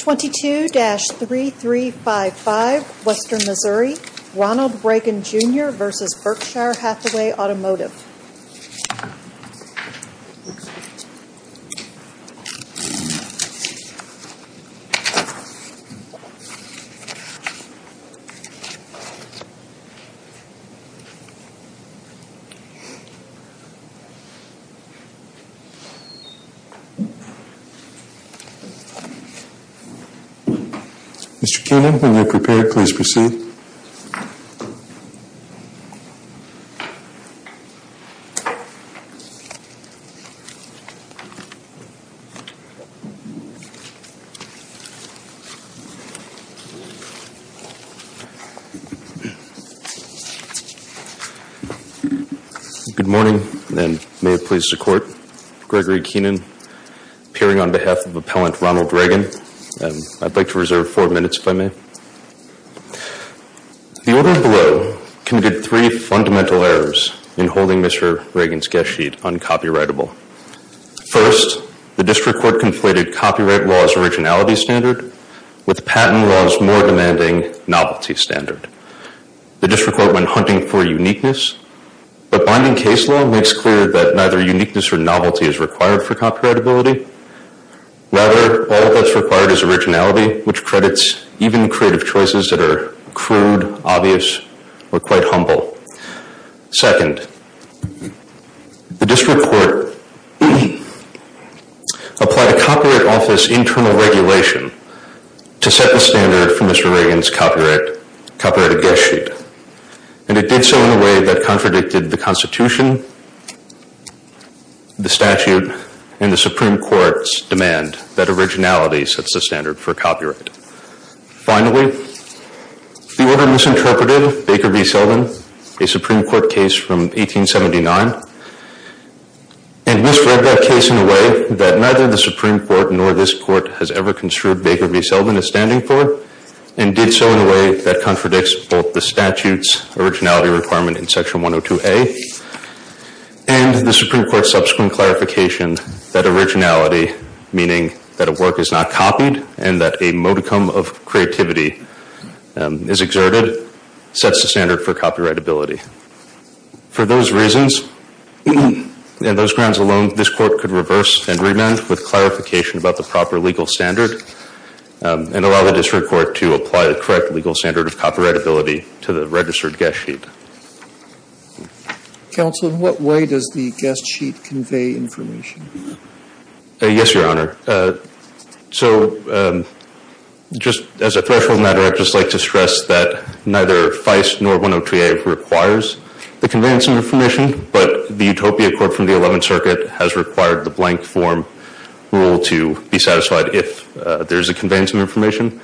22-3355 Western Missouri, Ronald Ragan, Jr. v. Berkshire Hathaway Automotive Mr. Keenan, when you're prepared, please proceed. Good morning, and may it please the Court, Gregory Keenan, appearing on behalf of Appellant Ronald Ragan. I'd like to reserve four minutes, if I may. The order below committed three fundamental errors in holding Mr. Ragan's guest sheet uncopyrightable. First, the District Court conflated copyright law's originality standard with patent law's more demanding novelty standard. The District Court went hunting for uniqueness, but binding case law makes clear that neither uniqueness or novelty is required for copyrightability. Rather, all that's required is originality, which credits even creative choices that are crude, obvious, or quite humble. Second, the District Court applied a Copyright Office internal regulation to set the standard for Mr. Ragan's copyrighted guest sheet. And it did so in a way that contradicted the Constitution, the statute, and the Supreme Court's demand that originality sets the standard for copyright. Finally, the order misinterpreted Baker v. Selden, a Supreme Court case from 1879, and misread that case in a way that neither the Supreme Court nor this Court has ever construed Baker v. Selden as standing for and did so in a way that contradicts both the statute's originality requirement in Section 102A and the Supreme Court's subsequent clarification that originality, meaning that a work is not copied and that a modicum of creativity is exerted, sets the standard for copyrightability. For those reasons and those grounds alone, this Court could reverse and allow the District Court to apply the correct legal standard of copyrightability to the registered guest sheet. Counsel, in what way does the guest sheet convey information? Yes, Your Honor. So just as a threshold matter, I'd just like to stress that neither FICE nor 102A requires the conveyance of information, but the Utopia Court from the Eleventh Amendment conveys some information.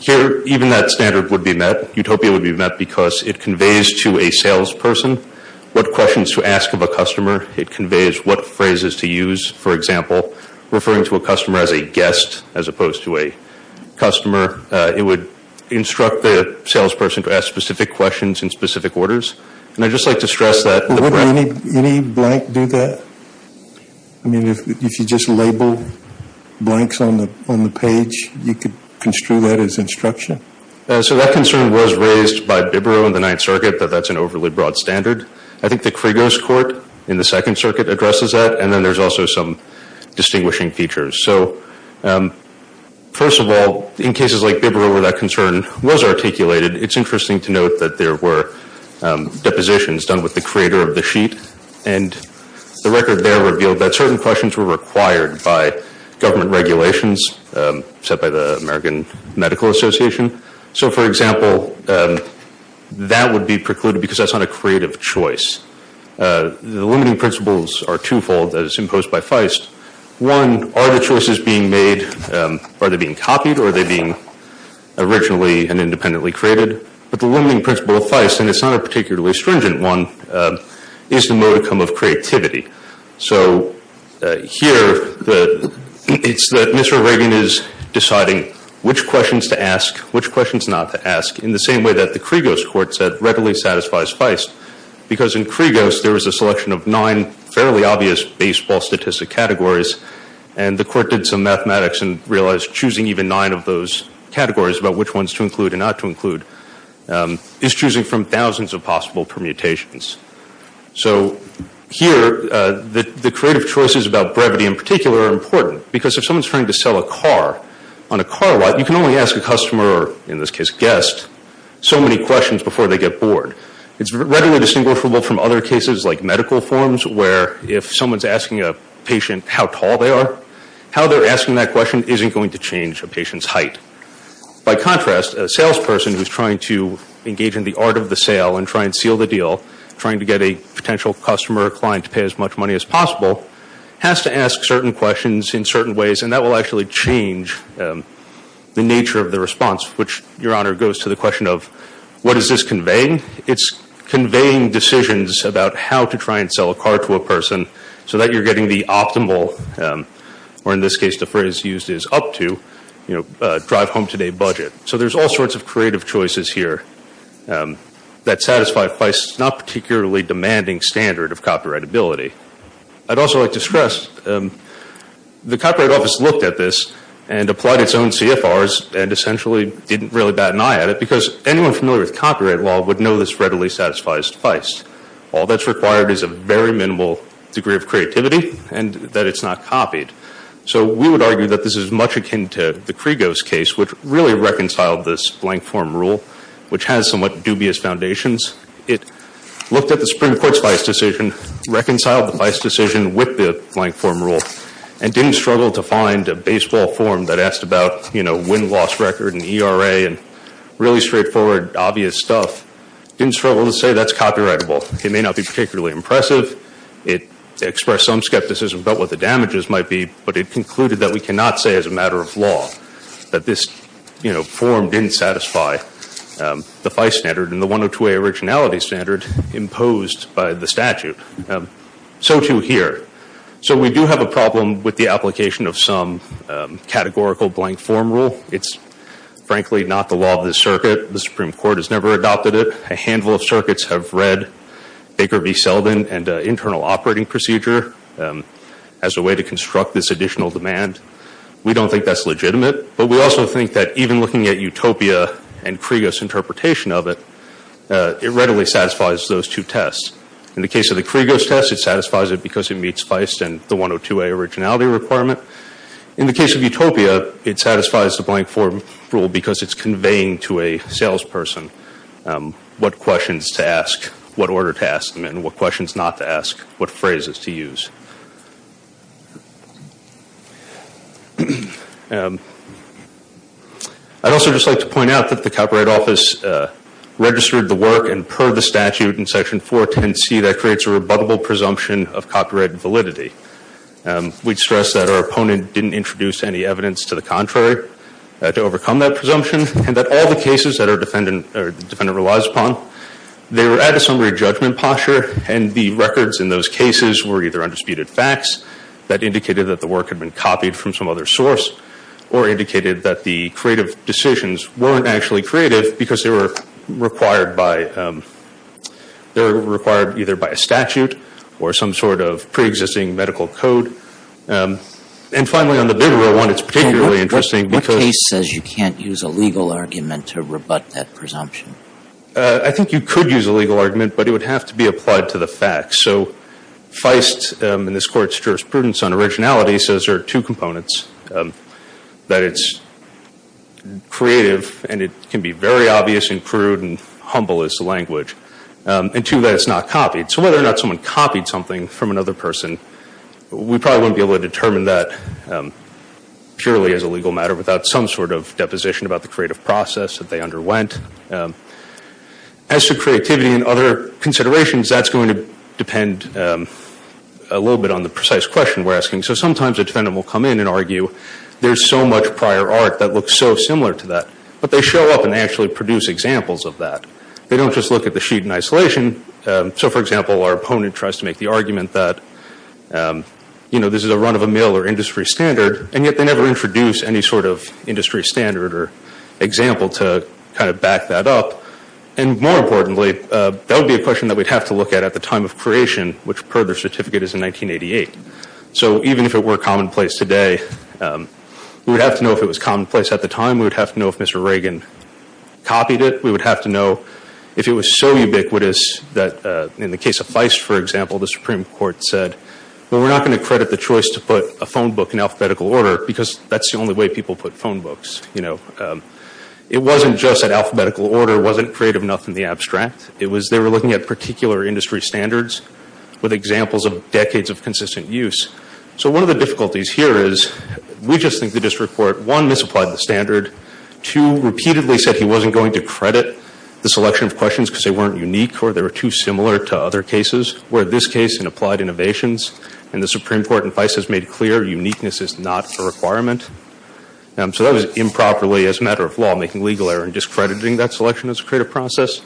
Here, even that standard would be met. Utopia would be met because it conveys to a salesperson what questions to ask of a customer. It conveys what phrases to use, for example, referring to a customer as a guest as opposed to a customer. It would instruct the salesperson to ask specific questions in specific orders. And I'd just like to stress that the brand Does any blank do that? I mean, if you just label blanks on the page, you could construe that as instruction? So that concern was raised by Bibbro in the Ninth Circuit, that that's an overly broad standard. I think the Krigos Court in the Second Circuit addresses that, and then there's also some distinguishing features. So, first of all, in cases like Bibbro where that concern was articulated, it's interesting to note that there were depositions done with the sheet, and the record there revealed that certain questions were required by government regulations set by the American Medical Association. So, for example, that would be precluded because that's not a creative choice. The limiting principles are twofold as imposed by Feist. One, are the choices being made, are they being copied or are they being originally and independently created? But the limiting principle of Feist, and it's not a particularly stringent one, is the modicum of creativity. So, here, it's that Mr. Reagan is deciding which questions to ask, which questions not to ask, in the same way that the Krigos Court said readily satisfies Feist. Because in Krigos, there was a selection of nine fairly obvious baseball statistic categories, and the Court did some mathematics and realized choosing even nine of those categories, about which ones to include and not to include, is choosing from thousands of possible permutations. So, here, the creative choices about brevity in particular are important, because if someone's trying to sell a car on a car lot, you can only ask a customer, or in this case, a guest, so many questions before they get bored. It's readily distinguishable from other cases like medical forms, where if someone's asking a patient how tall they are, how they're asking that question isn't going to change a patient's in the art of the sale and try and seal the deal, trying to get a potential customer or client to pay as much money as possible, has to ask certain questions in certain ways, and that will actually change the nature of the response, which, Your Honor, goes to the question of, what is this conveying? It's conveying decisions about how to try and sell a car to a person, so that you're getting the optimal, or in this case, the phrase used is up to, you know, drive home today budget. So, there's all sorts of creative choices here that satisfy Feist's not particularly demanding standard of copyrightability. I'd also like to stress, the Copyright Office looked at this and applied its own CFRs and essentially didn't really bat an eye at it, because anyone familiar with copyright law would know this readily satisfies Feist. All that's required is a very minimal degree of Krigo's case, which really reconciled this blank form rule, which has somewhat dubious foundations. It looked at the Supreme Court's Feist decision, reconciled the Feist decision with the blank form rule, and didn't struggle to find a baseball form that asked about, you know, win-loss record and ERA and really straightforward, obvious stuff. Didn't struggle to say that's copyrightable. It may not be particularly impressive. It concluded that we cannot say as a matter of law that this, you know, form didn't satisfy the Feist standard and the 102A originality standard imposed by the statute. So, too, here. So, we do have a problem with the application of some categorical blank form rule. It's frankly not the law of the circuit. The Supreme Court has never adopted it. A handful of circuits have read Baker v. Selden and internal operating procedure as a way to construct this additional demand. We don't think that's legitimate, but we also think that even looking at Utopia and Krigo's interpretation of it, it readily satisfies those two tests. In the case of the Krigo's test, it satisfies it because it meets Feist and the 102A originality requirement. In the case of Utopia, it satisfies the blank form rule because it's conveying to a salesperson what questions to ask, what order to ask them and what questions not to ask, what phrases to use. I'd also just like to point out that the Copyright Office registered the work and purred the statute in Section 410C that creates a rebuttable presumption of copyright validity. We stress that our opponent didn't introduce any evidence to the contrary to overcome that presumption and that all the cases that our defendant relies upon, they were at a summary judgment posture and the records in those cases were either undisputed facts that indicated that the work had been copied from some other source or indicated that the creative decisions weren't actually creative because they were required either by a statute or some sort of preexisting medical code. And finally, on the bigger one, it's particularly interesting because What case says you can't use a legal argument to rebut that presumption? I think you could use a legal argument, but it would have to be applied to the facts. So Feist, in this Court's jurisprudence on originality, says there are two components. That it's creative and it can be very obvious and crude and humble as language. And two, that it's not copied. So whether or not someone copied something from another person, we probably wouldn't be able to determine that purely as a legal matter without some sort of As to creativity and other considerations, that's going to depend a little bit on the precise question we're asking. So sometimes a defendant will come in and argue, there's so much prior art that looks so similar to that. But they show up and actually produce examples of that. They don't just look at the sheet in isolation. So, for example, our opponent tries to make the argument that, you know, this is a run of a mill or industry standard, and yet they never introduce any sort of industry standard or example to kind of back that up. And more importantly, that would be a question that we'd have to look at at the time of creation, which per their certificate is in 1988. So even if it were commonplace today, we would have to know if it was commonplace at the time. We would have to know if Mr. Reagan copied it. We would have to know if it was so ubiquitous that in the case of Feist, for example, the Supreme Court said, well, we're not going to credit the choice to put a phone book in alphabetical order because that's the only way people put phone books, you know. It wasn't just that alphabetical order wasn't creative enough in the abstract. It was they were looking at particular industry standards with examples of decades of consistent use. So one of the difficulties here is we just think the district court, one, misapplied the standard. Two, repeatedly said he wasn't going to credit the selection of questions because they weren't unique or they were too similar to other cases, where this case in applied innovations. And the Supreme Court in Feist has made clear uniqueness is not a requirement. So that was improperly, as a matter of law, making legal error in discrediting that selection as a creative process.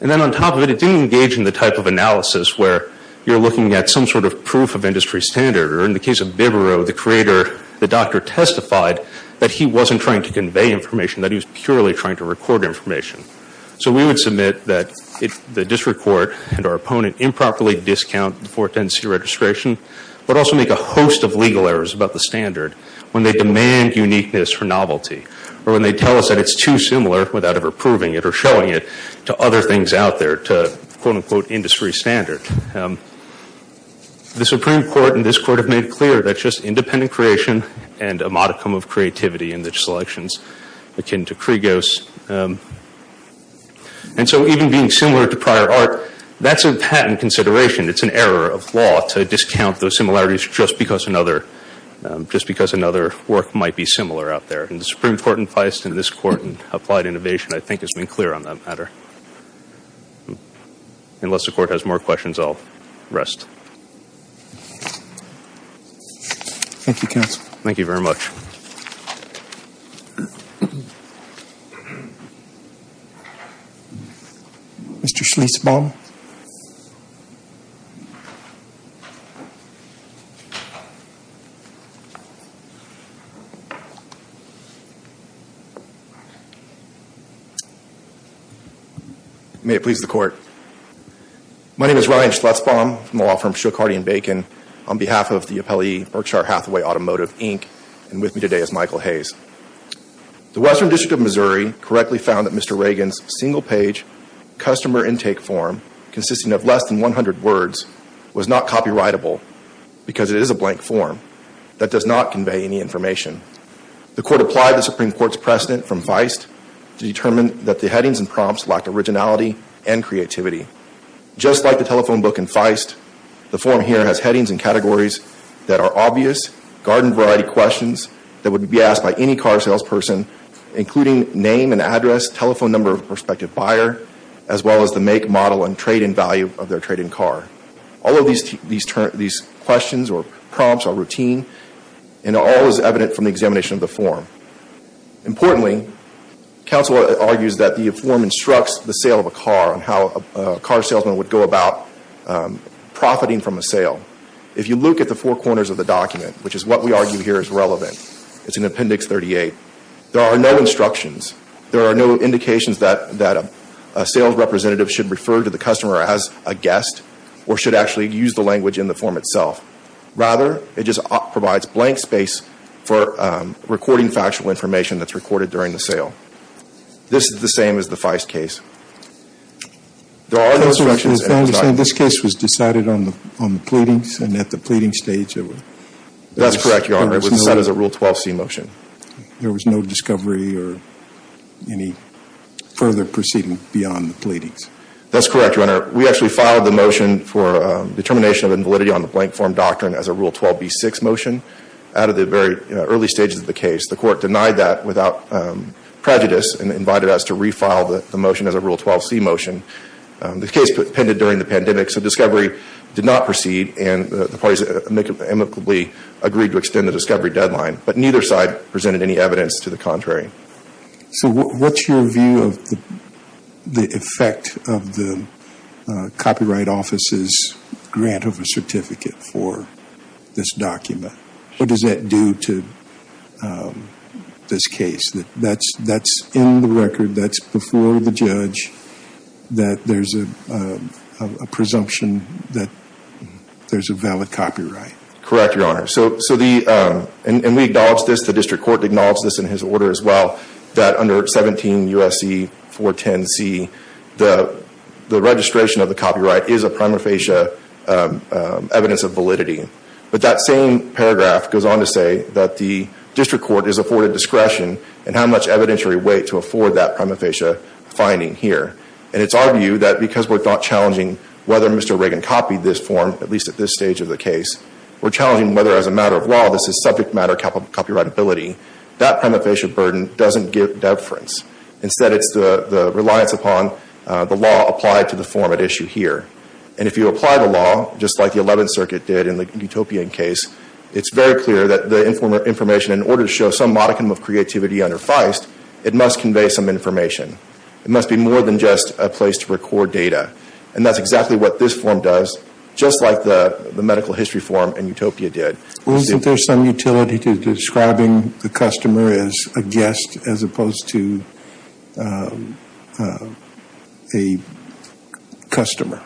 And then on top of it, it didn't engage in the type of analysis where you're looking at some sort of proof of industry standard. Or in the case of Bibereau, the creator, the doctor testified that he wasn't trying to convey information, that he was purely trying to record information. So we would submit that the district court and our opponent improperly discount the 410C registration, but also make a host of legal errors about the standard when they demand uniqueness for novelty or when they tell us that it's too similar without ever proving it or showing it to other things out there, to quote, unquote, industry standard. The Supreme Court and this Court have made clear that just independent creation and a modicum of creativity in the selections akin to Kriegos. And so even being similar to prior art, that's a patent consideration. It's an error of law to discount those similarities just because another work might be similar out there. And the Supreme Court in Feist and this Court in applied innovation, I think, has been clear on that matter. Unless the Court has more questions, I'll rest. Thank you, Counsel. Thank you very much. Mr. Schlesbaum. May it please the Court. My name is Ryan Schlesbaum from the law firm Shook, Hardy & Bacon. On behalf of the appellee Berkshire Hathaway Automotive, Inc. and with me today is Michael Hayes. The Western District of Missouri correctly found that Mr. Reagan's single-page customer intake form, consisting of less than 100 words, was not copyrightable because it is a blank form that does not convey any information. The Court applied the Supreme Court's precedent from Feist to determine that the headings and prompts lack originality and creativity. Just like the telephone book in Feist, the form here has headings and categories that are obvious, garden-variety questions that would be asked by any car salesperson, including name and address, telephone number of a prospective buyer, as well as the make, model, and trade-in value of their trade-in car. All of these questions or prompts are routine and all is evident from the examination of the form. Importantly, counsel argues that the form instructs the sale of a car and how a car salesman would go about profiting from a sale. If you look at the four corners of the document, which is what we argue here is relevant, it's in Appendix 38, there are no instructions. There are no indications that a sales representative should refer to the customer as a guest or should actually use the language in the form itself. Rather, it just provides blank space for recording factual information that's recorded during the sale. This is the same as the Feist case. There are no instructions. Counselor, is that to say this case was decided on the pleadings and at the pleading stage? That's correct, Your Honor. It was set as a Rule 12c motion. There was no discovery or any further proceeding beyond the pleadings? That's correct, Your Honor. We actually filed the motion for determination of invalidity on the blank form doctrine as a Rule 12b6 motion out of the very early stages of the case. The court denied that without prejudice and invited us to refile the motion as a Rule 12c motion. The case pended during the pandemic, so discovery did not proceed and the parties amicably agreed to extend the discovery deadline. But neither side presented any evidence to the contrary. So what's your view of the effect of the Copyright Office's grant of a certificate for this document? What does that do to this case? That's in the record, that's before the judge, that there's a presumption that there's a valid copyright? Correct, Your Honor. And we acknowledge this, the district court acknowledged this in his order as well, that under 17 U.S.C. 410c, the registration of the copyright is a prima facie evidence of validity. But that same paragraph goes on to say that the district court is afforded discretion in how much evidentiary weight to afford that prima facie finding here. And it's our view that because we're not challenging whether Mr. Reagan copied this form, at least at this stage of the case, we're challenging whether as a matter of law this is subject matter copyrightability, that prima facie burden doesn't give deference. Instead, it's the reliance upon the law applied to the form at issue here. And if you apply the law, just like the 11th Circuit did in the Utopian case, it's very clear that the information, in order to show some modicum of creativity under Feist, it must convey some information. It must be more than just a place to record data. And that's exactly what this form does, just like the medical history form in Utopia did. Well, isn't there some utility to describing the customer as a guest as opposed to a customer?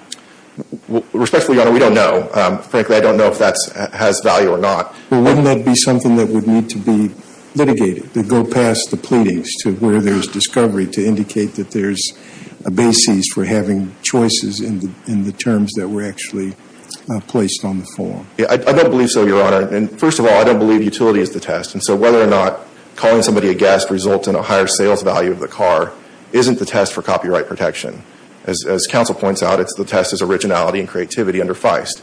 Respectfully, Your Honor, we don't know. Frankly, I don't know if that has value or not. Well, wouldn't that be something that would need to be litigated, that go past the pleadings to where there's discovery to indicate that there's a basis for having choices in the terms that were actually placed on the form? I don't believe so, Your Honor. And first of all, I don't believe utility is the test. And so whether or not calling somebody a guest results in a higher sales value of the car isn't the test for copyright protection. As counsel points out, the test is originality and creativity under Feist.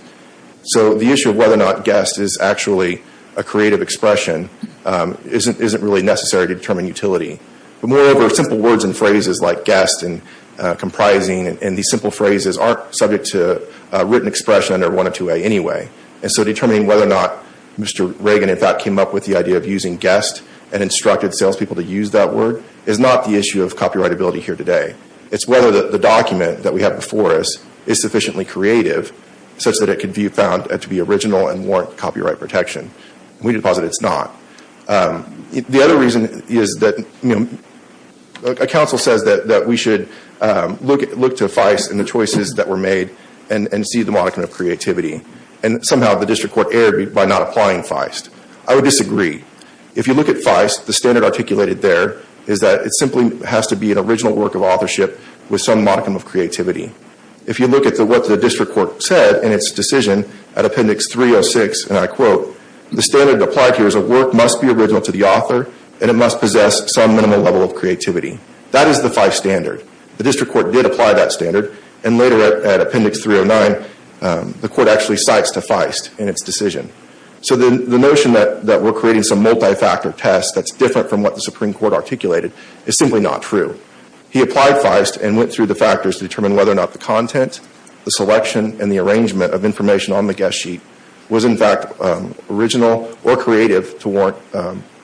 So the issue of whether or not guest is actually a creative expression isn't really necessary to determine utility. But moreover, simple words and phrases like guest and comprising and these simple phrases aren't subject to written expression under 102A anyway. And so determining whether or not Mr. Reagan, in fact, came up with the idea of using guest and instructed salespeople to use that word is not the issue of copyrightability here today. It's whether the document that we have before us is sufficiently creative such that it can be found to be original and warrant copyright protection. We deposit it's not. The other reason is that counsel says that we should look to Feist and the choices that were made and see the moniker of creativity. And somehow the district court erred by not applying Feist. I would disagree. If you look at Feist, the standard articulated there is that it simply has to be an original work of authorship with some modicum of creativity. If you look at what the district court said in its decision at Appendix 306, and I quote, the standard applied here is a work must be original to the author and it must possess some minimum level of creativity. That is the Feist standard. The district court did apply that standard. And later at Appendix 309, the court actually cites to Feist in its decision. So the notion that we're creating some multi-factor test that's different from what the Supreme Court articulated is simply not true. He applied Feist and went through the factors to determine whether or not the content, the selection, and the arrangement of information on the guest sheet was in fact original or creative to warrant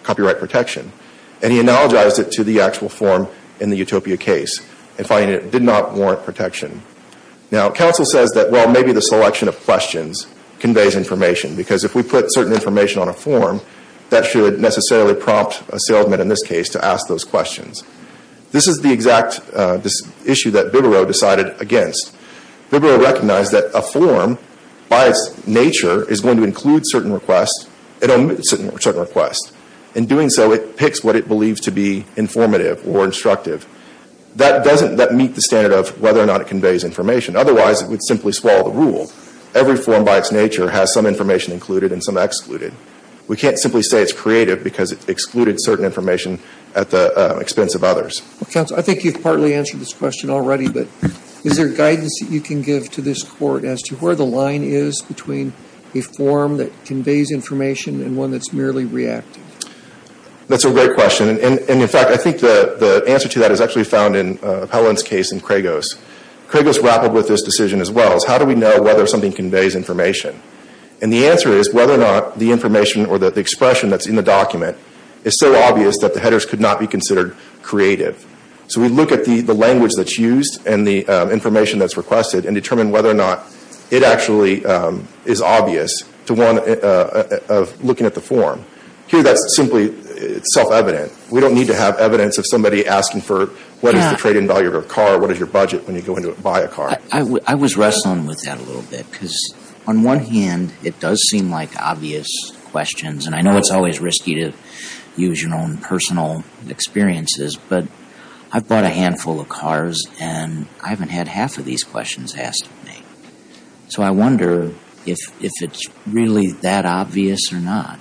copyright protection. And he analogized it to the actual form in the Utopia case and finding it did not warrant protection. Now, counsel says that, well, maybe the selection of questions conveys information because if we put certain information on a form, that should necessarily prompt a salesman in this case to ask those questions. This is the exact issue that Bibiro decided against. Bibiro recognized that a form, by its nature, is going to include certain requests and omit certain requests. In doing so, it picks what it believes to be informative or instructive. That doesn't meet the standard of whether or not it conveys information. Otherwise, it would simply swallow the rule. Every form, by its nature, has some information included and some excluded. We can't simply say it's creative because it excluded certain information at the expense of others. Well, counsel, I think you've partly answered this question already, but is there guidance that you can give to this court as to where the line is between a form that conveys information and one that's merely reactive? That's a great question. In fact, I think the answer to that is actually found in Appellant's case in Kregos. Kregos grappled with this decision as well. How do we know whether something conveys information? The answer is whether or not the information or the expression that's in the document is so obvious that the headers could not be considered creative. We look at the language that's used and the information that's requested and determine whether or not it actually is obvious to one looking at the form. Here that's simply self-evident. We don't need to have evidence of somebody asking for what is the trade-in value of a car, what is your budget when you go in to buy a car. I was wrestling with that a little bit because on one hand it does seem like obvious questions and I know it's always risky to use your own personal experiences, but I've bought a handful of cars and I haven't had half of these questions asked of me. So I wonder if it's really that obvious or not.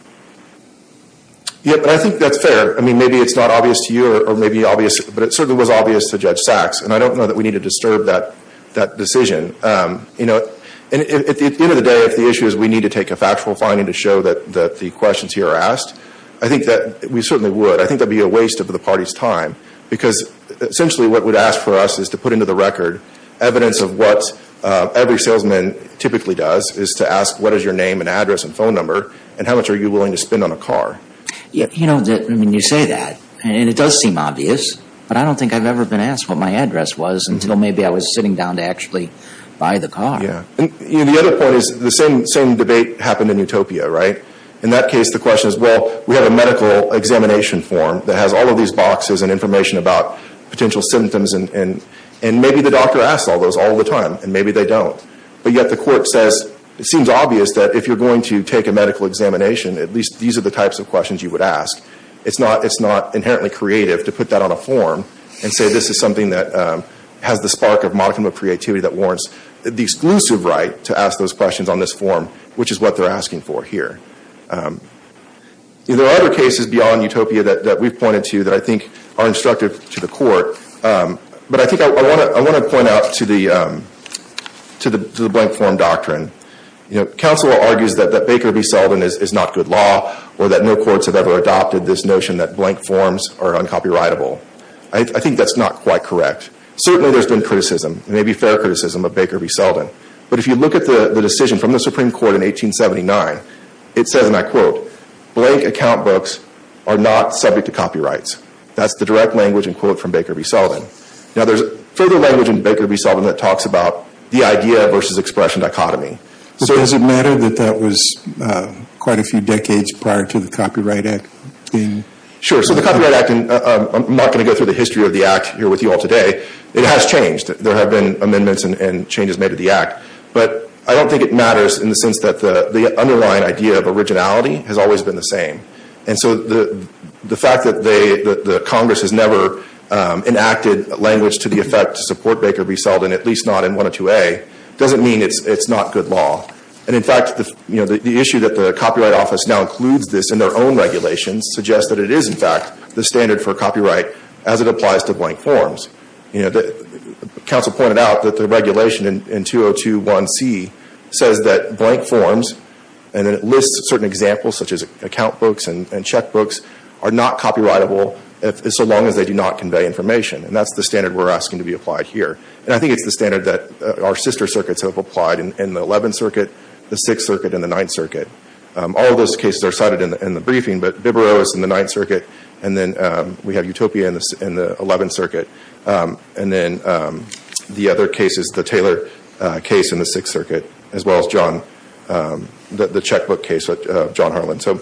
Yeah, but I think that's fair. I mean maybe it's not obvious to you or maybe obvious, but it certainly was obvious to Judge Sachs and I don't know that we need to disturb that decision. You know, at the end of the day if the issue is we need to take a factual finding to show that the questions here are asked, I think that we certainly would. I think that would be a waste of the party's time because essentially what it would ask for us is to put into the record evidence of what every salesman typically does is to ask what is your name and address and phone number and how much are you willing to spend on a car. You know, I mean you say that and it does seem obvious, but I don't think I've ever been asked what my address was until maybe I was sitting down to actually buy the car. Yeah, and the other point is the same debate happened in Utopia, right? In that case the question is, well, we have a medical examination form that has all of these boxes and information about potential symptoms and maybe the doctor asks all those all the time and maybe they don't. But yet the court says it seems obvious that if you're going to take a medical examination at least these are the types of questions you would ask. It's not inherently creative to put that on a form and say this is something that has the spark of modicum of creativity that warrants the exclusive right to ask those questions on this form, which is what they're asking for here. There are other cases beyond Utopia that we've pointed to that I think are instructive to the court, but I think I want to point out to the blank form doctrine. You know, counsel argues that Baker v. Selden is not good law or that no courts have ever adopted this notion that blank forms are uncopyrightable. I think that's not quite correct. Certainly there's been criticism, maybe fair criticism of Baker v. Selden, but if you look at the decision from the Supreme Court in 1879, it says, and I quote, blank account books are not subject to copyrights. That's the direct language in quote from Baker v. Selden. Now there's further language in Baker v. Selden that talks about the idea versus expression dichotomy. Does it matter that that was quite a few decades prior to the Copyright Act? Sure, so the Copyright Act, and I'm not going to go through the history of the Act here with you all today, it has changed. There have been amendments and changes made to the Act, but I don't think it matters in the sense that the underlying idea of originality has always been the same. And so the fact that Congress has never enacted language to the effect to support Baker v. Selden, at least not in 102A, doesn't mean it's not good law. And in fact, the issue that the Copyright Office now includes this in their own regulations suggests that it is in fact the standard for copyright as it applies to blank forms. Council pointed out that the regulation in 2021C says that blank forms, and it lists certain examples such as account books and checkbooks, are not copyrightable so long as they do not convey information. And that's the standard we're asking to be applied here. And I think it's the standard that our sister circuits have applied in the Eleventh Circuit, the Sixth Circuit, and the Ninth Circuit. All of those cases are cited in the briefing, but Bibaro is in the Ninth Circuit, and then we have Utopia in the Eleventh Circuit. And then the other cases, the Taylor case in the Sixth Circuit, as well as the checkbook case of John Harlan. So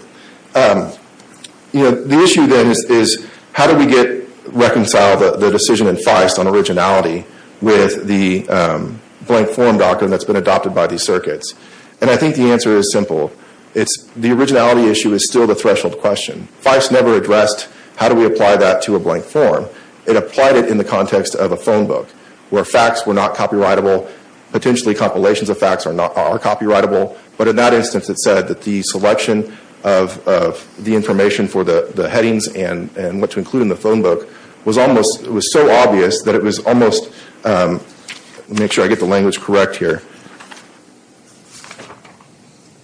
the issue then is how do we reconcile the decision in Feist on originality with the blank form doctrine that's been adopted by these circuits? And I think the answer is simple. The originality issue is still the threshold question. Feist never addressed how do we apply that to a blank form. It applied it in the context of a phone book where facts were not copyrightable. Potentially compilations of facts are copyrightable, but in that instance it said that the selection of the information for the headings and what to include in the phone book was so obvious that it was almost— let me make sure I get the language correct here—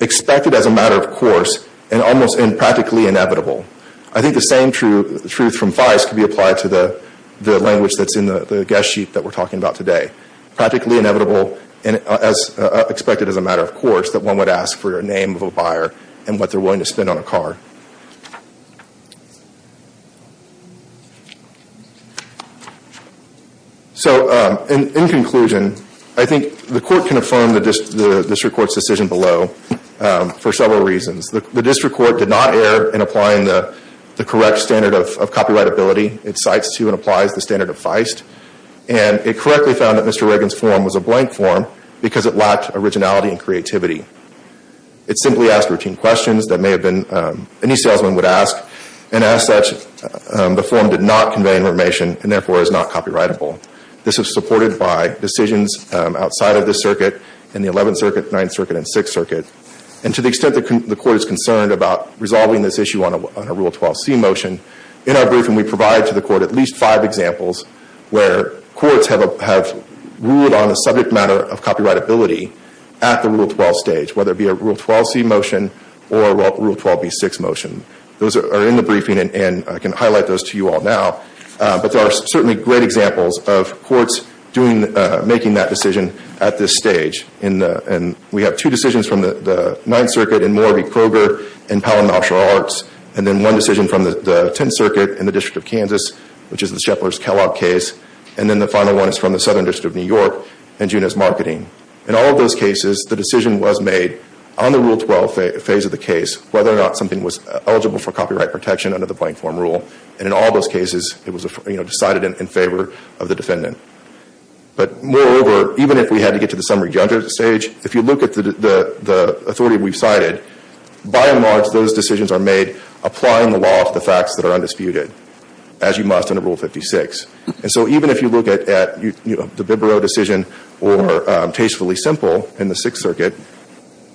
expected as a matter of course and almost practically inevitable. I think the same truth from Feist could be applied to the language that's in the guest sheet that we're talking about today. Practically inevitable as expected as a matter of course that one would ask for the name of a buyer and what they're willing to spend on a car. So in conclusion, I think the Court can affirm the District Court's decision below for several reasons. The District Court did not err in applying the correct standard of copyrightability. It cites to and applies the standard of Feist. And it correctly found that Mr. Reagan's form was a blank form because it lacked originality and creativity. It simply asked routine questions that may have been—any salesman would ask. And as such, the form did not convey information and therefore is not copyrightable. This is supported by decisions outside of this circuit and the 11th Circuit, 9th Circuit, and 6th Circuit. And to the extent the Court is concerned about resolving this issue on a Rule 12c motion, in our briefing we provide to the Court at least five examples where courts have ruled on a subject matter of copyrightability at the Rule 12 stage, whether it be a Rule 12c motion or a Rule 12b6 motion. Those are in the briefing and I can highlight those to you all now. But there are certainly great examples of courts making that decision at this stage. We have two decisions from the 9th Circuit in Moore v. Kroger in Powell Martial Arts and then one decision from the 10th Circuit in the District of Kansas, which is the Sheplers-Kellogg case. And then the final one is from the Southern District of New York in Juneau's Marketing. In all of those cases, the decision was made on the Rule 12 phase of the case whether or not something was eligible for copyright protection under the blank form rule. And in all those cases, it was decided in favor of the defendant. But moreover, even if we had to get to the summary juncture stage, if you look at the authority we've cited, by and large, those decisions are made applying the law to the facts that are undisputed, as you must under Rule 56. And so even if you look at the Bibaro decision or Tastefully Simple in the 6th Circuit,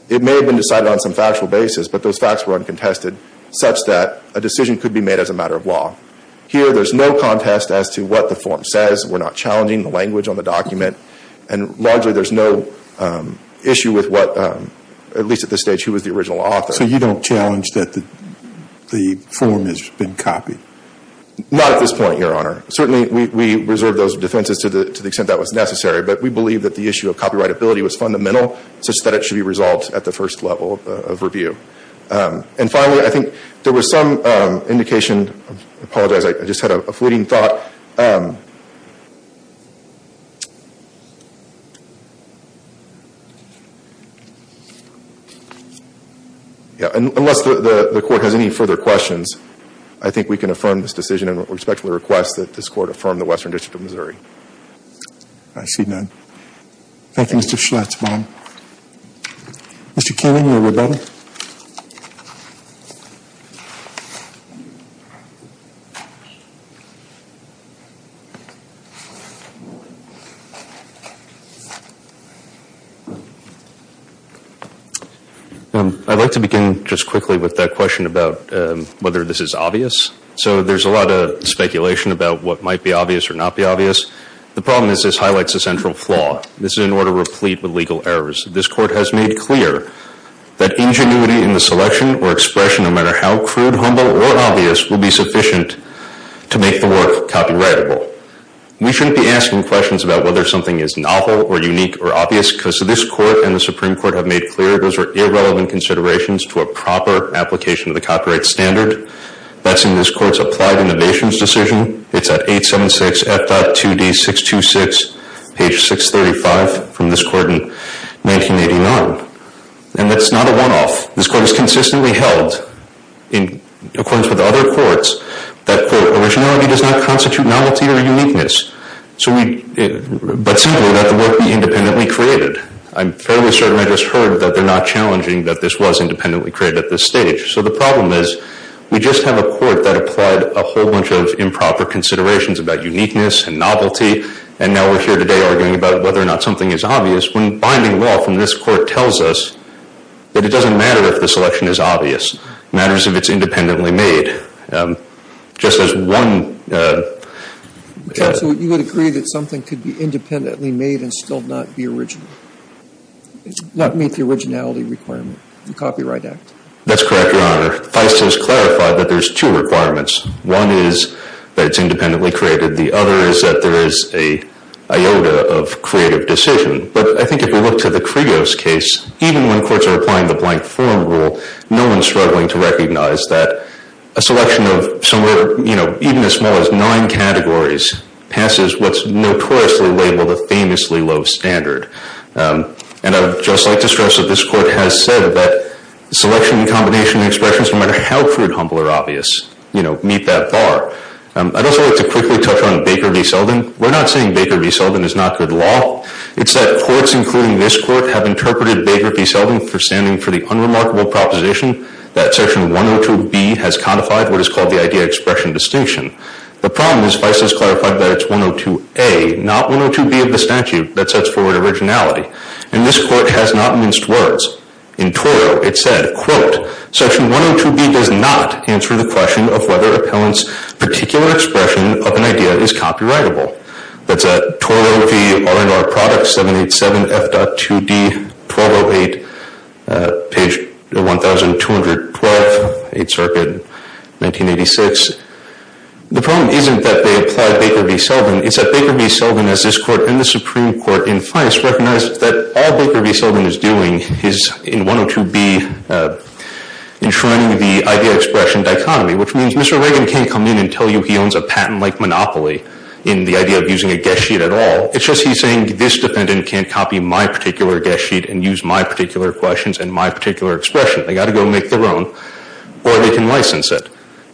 it may have been decided on some factual basis, but those facts were uncontested, such that a decision could be made as a matter of law. Here, there's no contest as to what the form says. We're not challenging the language on the document. And largely, there's no issue with what, at least at this stage, who was the original author. So you don't challenge that the form has been copied? Not at this point, Your Honor. Certainly, we reserve those defenses to the extent that was necessary. But we believe that the issue of copyrightability was fundamental, such that it should be resolved at the first level of review. And finally, I think there was some indication, I apologize, I just had a fleeting thought. Unless the Court has any further questions, I think we can affirm this decision and respectfully request that this Court affirm the Western District of Missouri. I see none. Thank you, Mr. Schlatzbaum. Mr. Keenan, you were ready. I'd like to begin just quickly with that question about whether this is obvious. So there's a lot of speculation about what might be obvious or not be obvious. The problem is this highlights a central flaw. This is an order replete with legal errors. This Court has made clear that ingenuity in the selection or expression, no matter how crude, humble, or obvious, will be sufficient to make the work copyrightable. We shouldn't be asking questions about whether something is novel or unique or obvious because this Court and the Supreme Court have made clear those are irrelevant considerations to a proper application of the copyright standard. That's in this Court's Applied Innovations Decision. It's at 876 F.2D 626, page 635 from this Court in 1989. And that's not a one-off. This Court has consistently held, in accordance with other courts, that, quote, originality does not constitute novelty or uniqueness, but simply that the work be independently created. I'm fairly certain I just heard that they're not challenging that this was independently created at this stage. So the problem is we just have a Court that applied a whole bunch of improper considerations about uniqueness and novelty, and now we're here today arguing about whether or not something is obvious when binding law from this Court tells us that it doesn't matter if the selection is obvious. It matters if it's independently made. Just as one – Counsel, you would agree that something could be independently made and still not be original, not meet the originality requirement, the Copyright Act? That's correct, Your Honor. FISA has clarified that there's two requirements. One is that it's independently created. The other is that there is an iota of creative decision. But I think if you look to the Krios case, even when courts are applying the blank form rule, no one's struggling to recognize that a selection of somewhere, you know, even as small as nine categories, passes what's notoriously labeled a famously low standard. And I would just like to stress that this Court has said that selection and combination of expressions, no matter how crude, humble, or obvious, you know, meet that bar. I'd also like to quickly touch on Baker v. Selden. We're not saying Baker v. Selden is not good law. It's that courts, including this Court, have interpreted Baker v. Selden for standing for the unremarkable proposition that Section 102B has codified what is called the idea-expression distinction. The problem is FISA's clarified that it's 102A, not 102B of the statute that sets forward originality. And this Court has not minced words. In Toro, it said, quote, Section 102B does not answer the question of whether appellant's particular expression of an idea is copyrightable. That's at Toro v. R&R Products, 787F.2D, 1208, page 1212, 8th Circuit, 1986. The problem isn't that they applied Baker v. Selden. It's that Baker v. Selden, as this Court and the Supreme Court in FISA recognize, that all Baker v. Selden is doing is, in 102B, enshrining the idea-expression dichotomy, which means Mr. Reagan can't come in and tell you he owns a patent-like monopoly in the idea of using a guest sheet at all. It's just he's saying this defendant can't copy my particular guest sheet and use my particular questions and my particular expression. They've got to go make their own, or they can license it.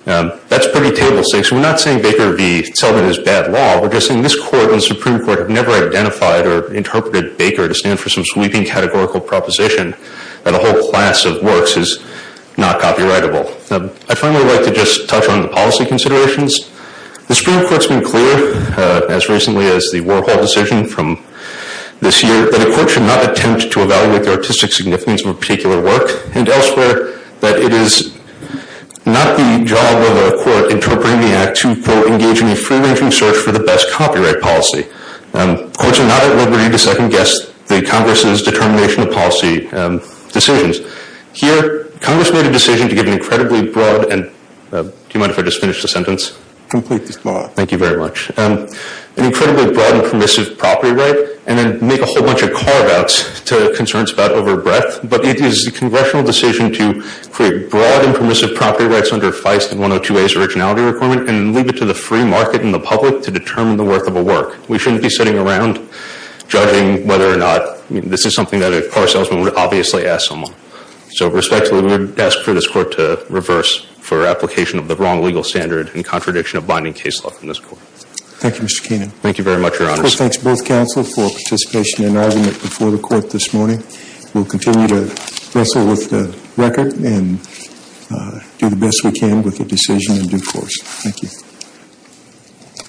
That's pretty table-six. We're not saying Baker v. Selden is bad law. We're just saying this Court and the Supreme Court have never identified or interpreted Baker to stand for some sweeping categorical proposition that a whole class of works is not copyrightable. I'd finally like to just touch on the policy considerations. The Supreme Court's been clear, as recently as the Warhol decision from this year, that a court should not attempt to evaluate the artistic significance of a particular work and elsewhere that it is not the job of a court interpreting the act to go engage in a free-ranging search for the best copyright policy. Courts are not at liberty to second-guess the Congress's determination of policy decisions. Here, Congress made a decision to give an incredibly broad and – do you mind if I just finish the sentence? Completely small. Thank you very much. An incredibly broad and permissive property right, and then make a whole bunch of carve-outs to concerns about over-breath, but it is the Congressional decision to create broad and permissive property rights under Feist and 102A's originality requirement and leave it to the free market and the public to determine the worth of a work. We shouldn't be sitting around judging whether or not – this is something that a car salesman would obviously ask someone. So, respectfully, we would ask for this Court to reverse for application of the wrong legal standard in contradiction of binding case law from this Court. Thank you, Mr. Keenan. Thank you very much, Your Honors. We'll thank both counsel for participation in arguing it before the Court this morning. We'll continue to wrestle with the record and do the best we can with the decision in due course. Thank you.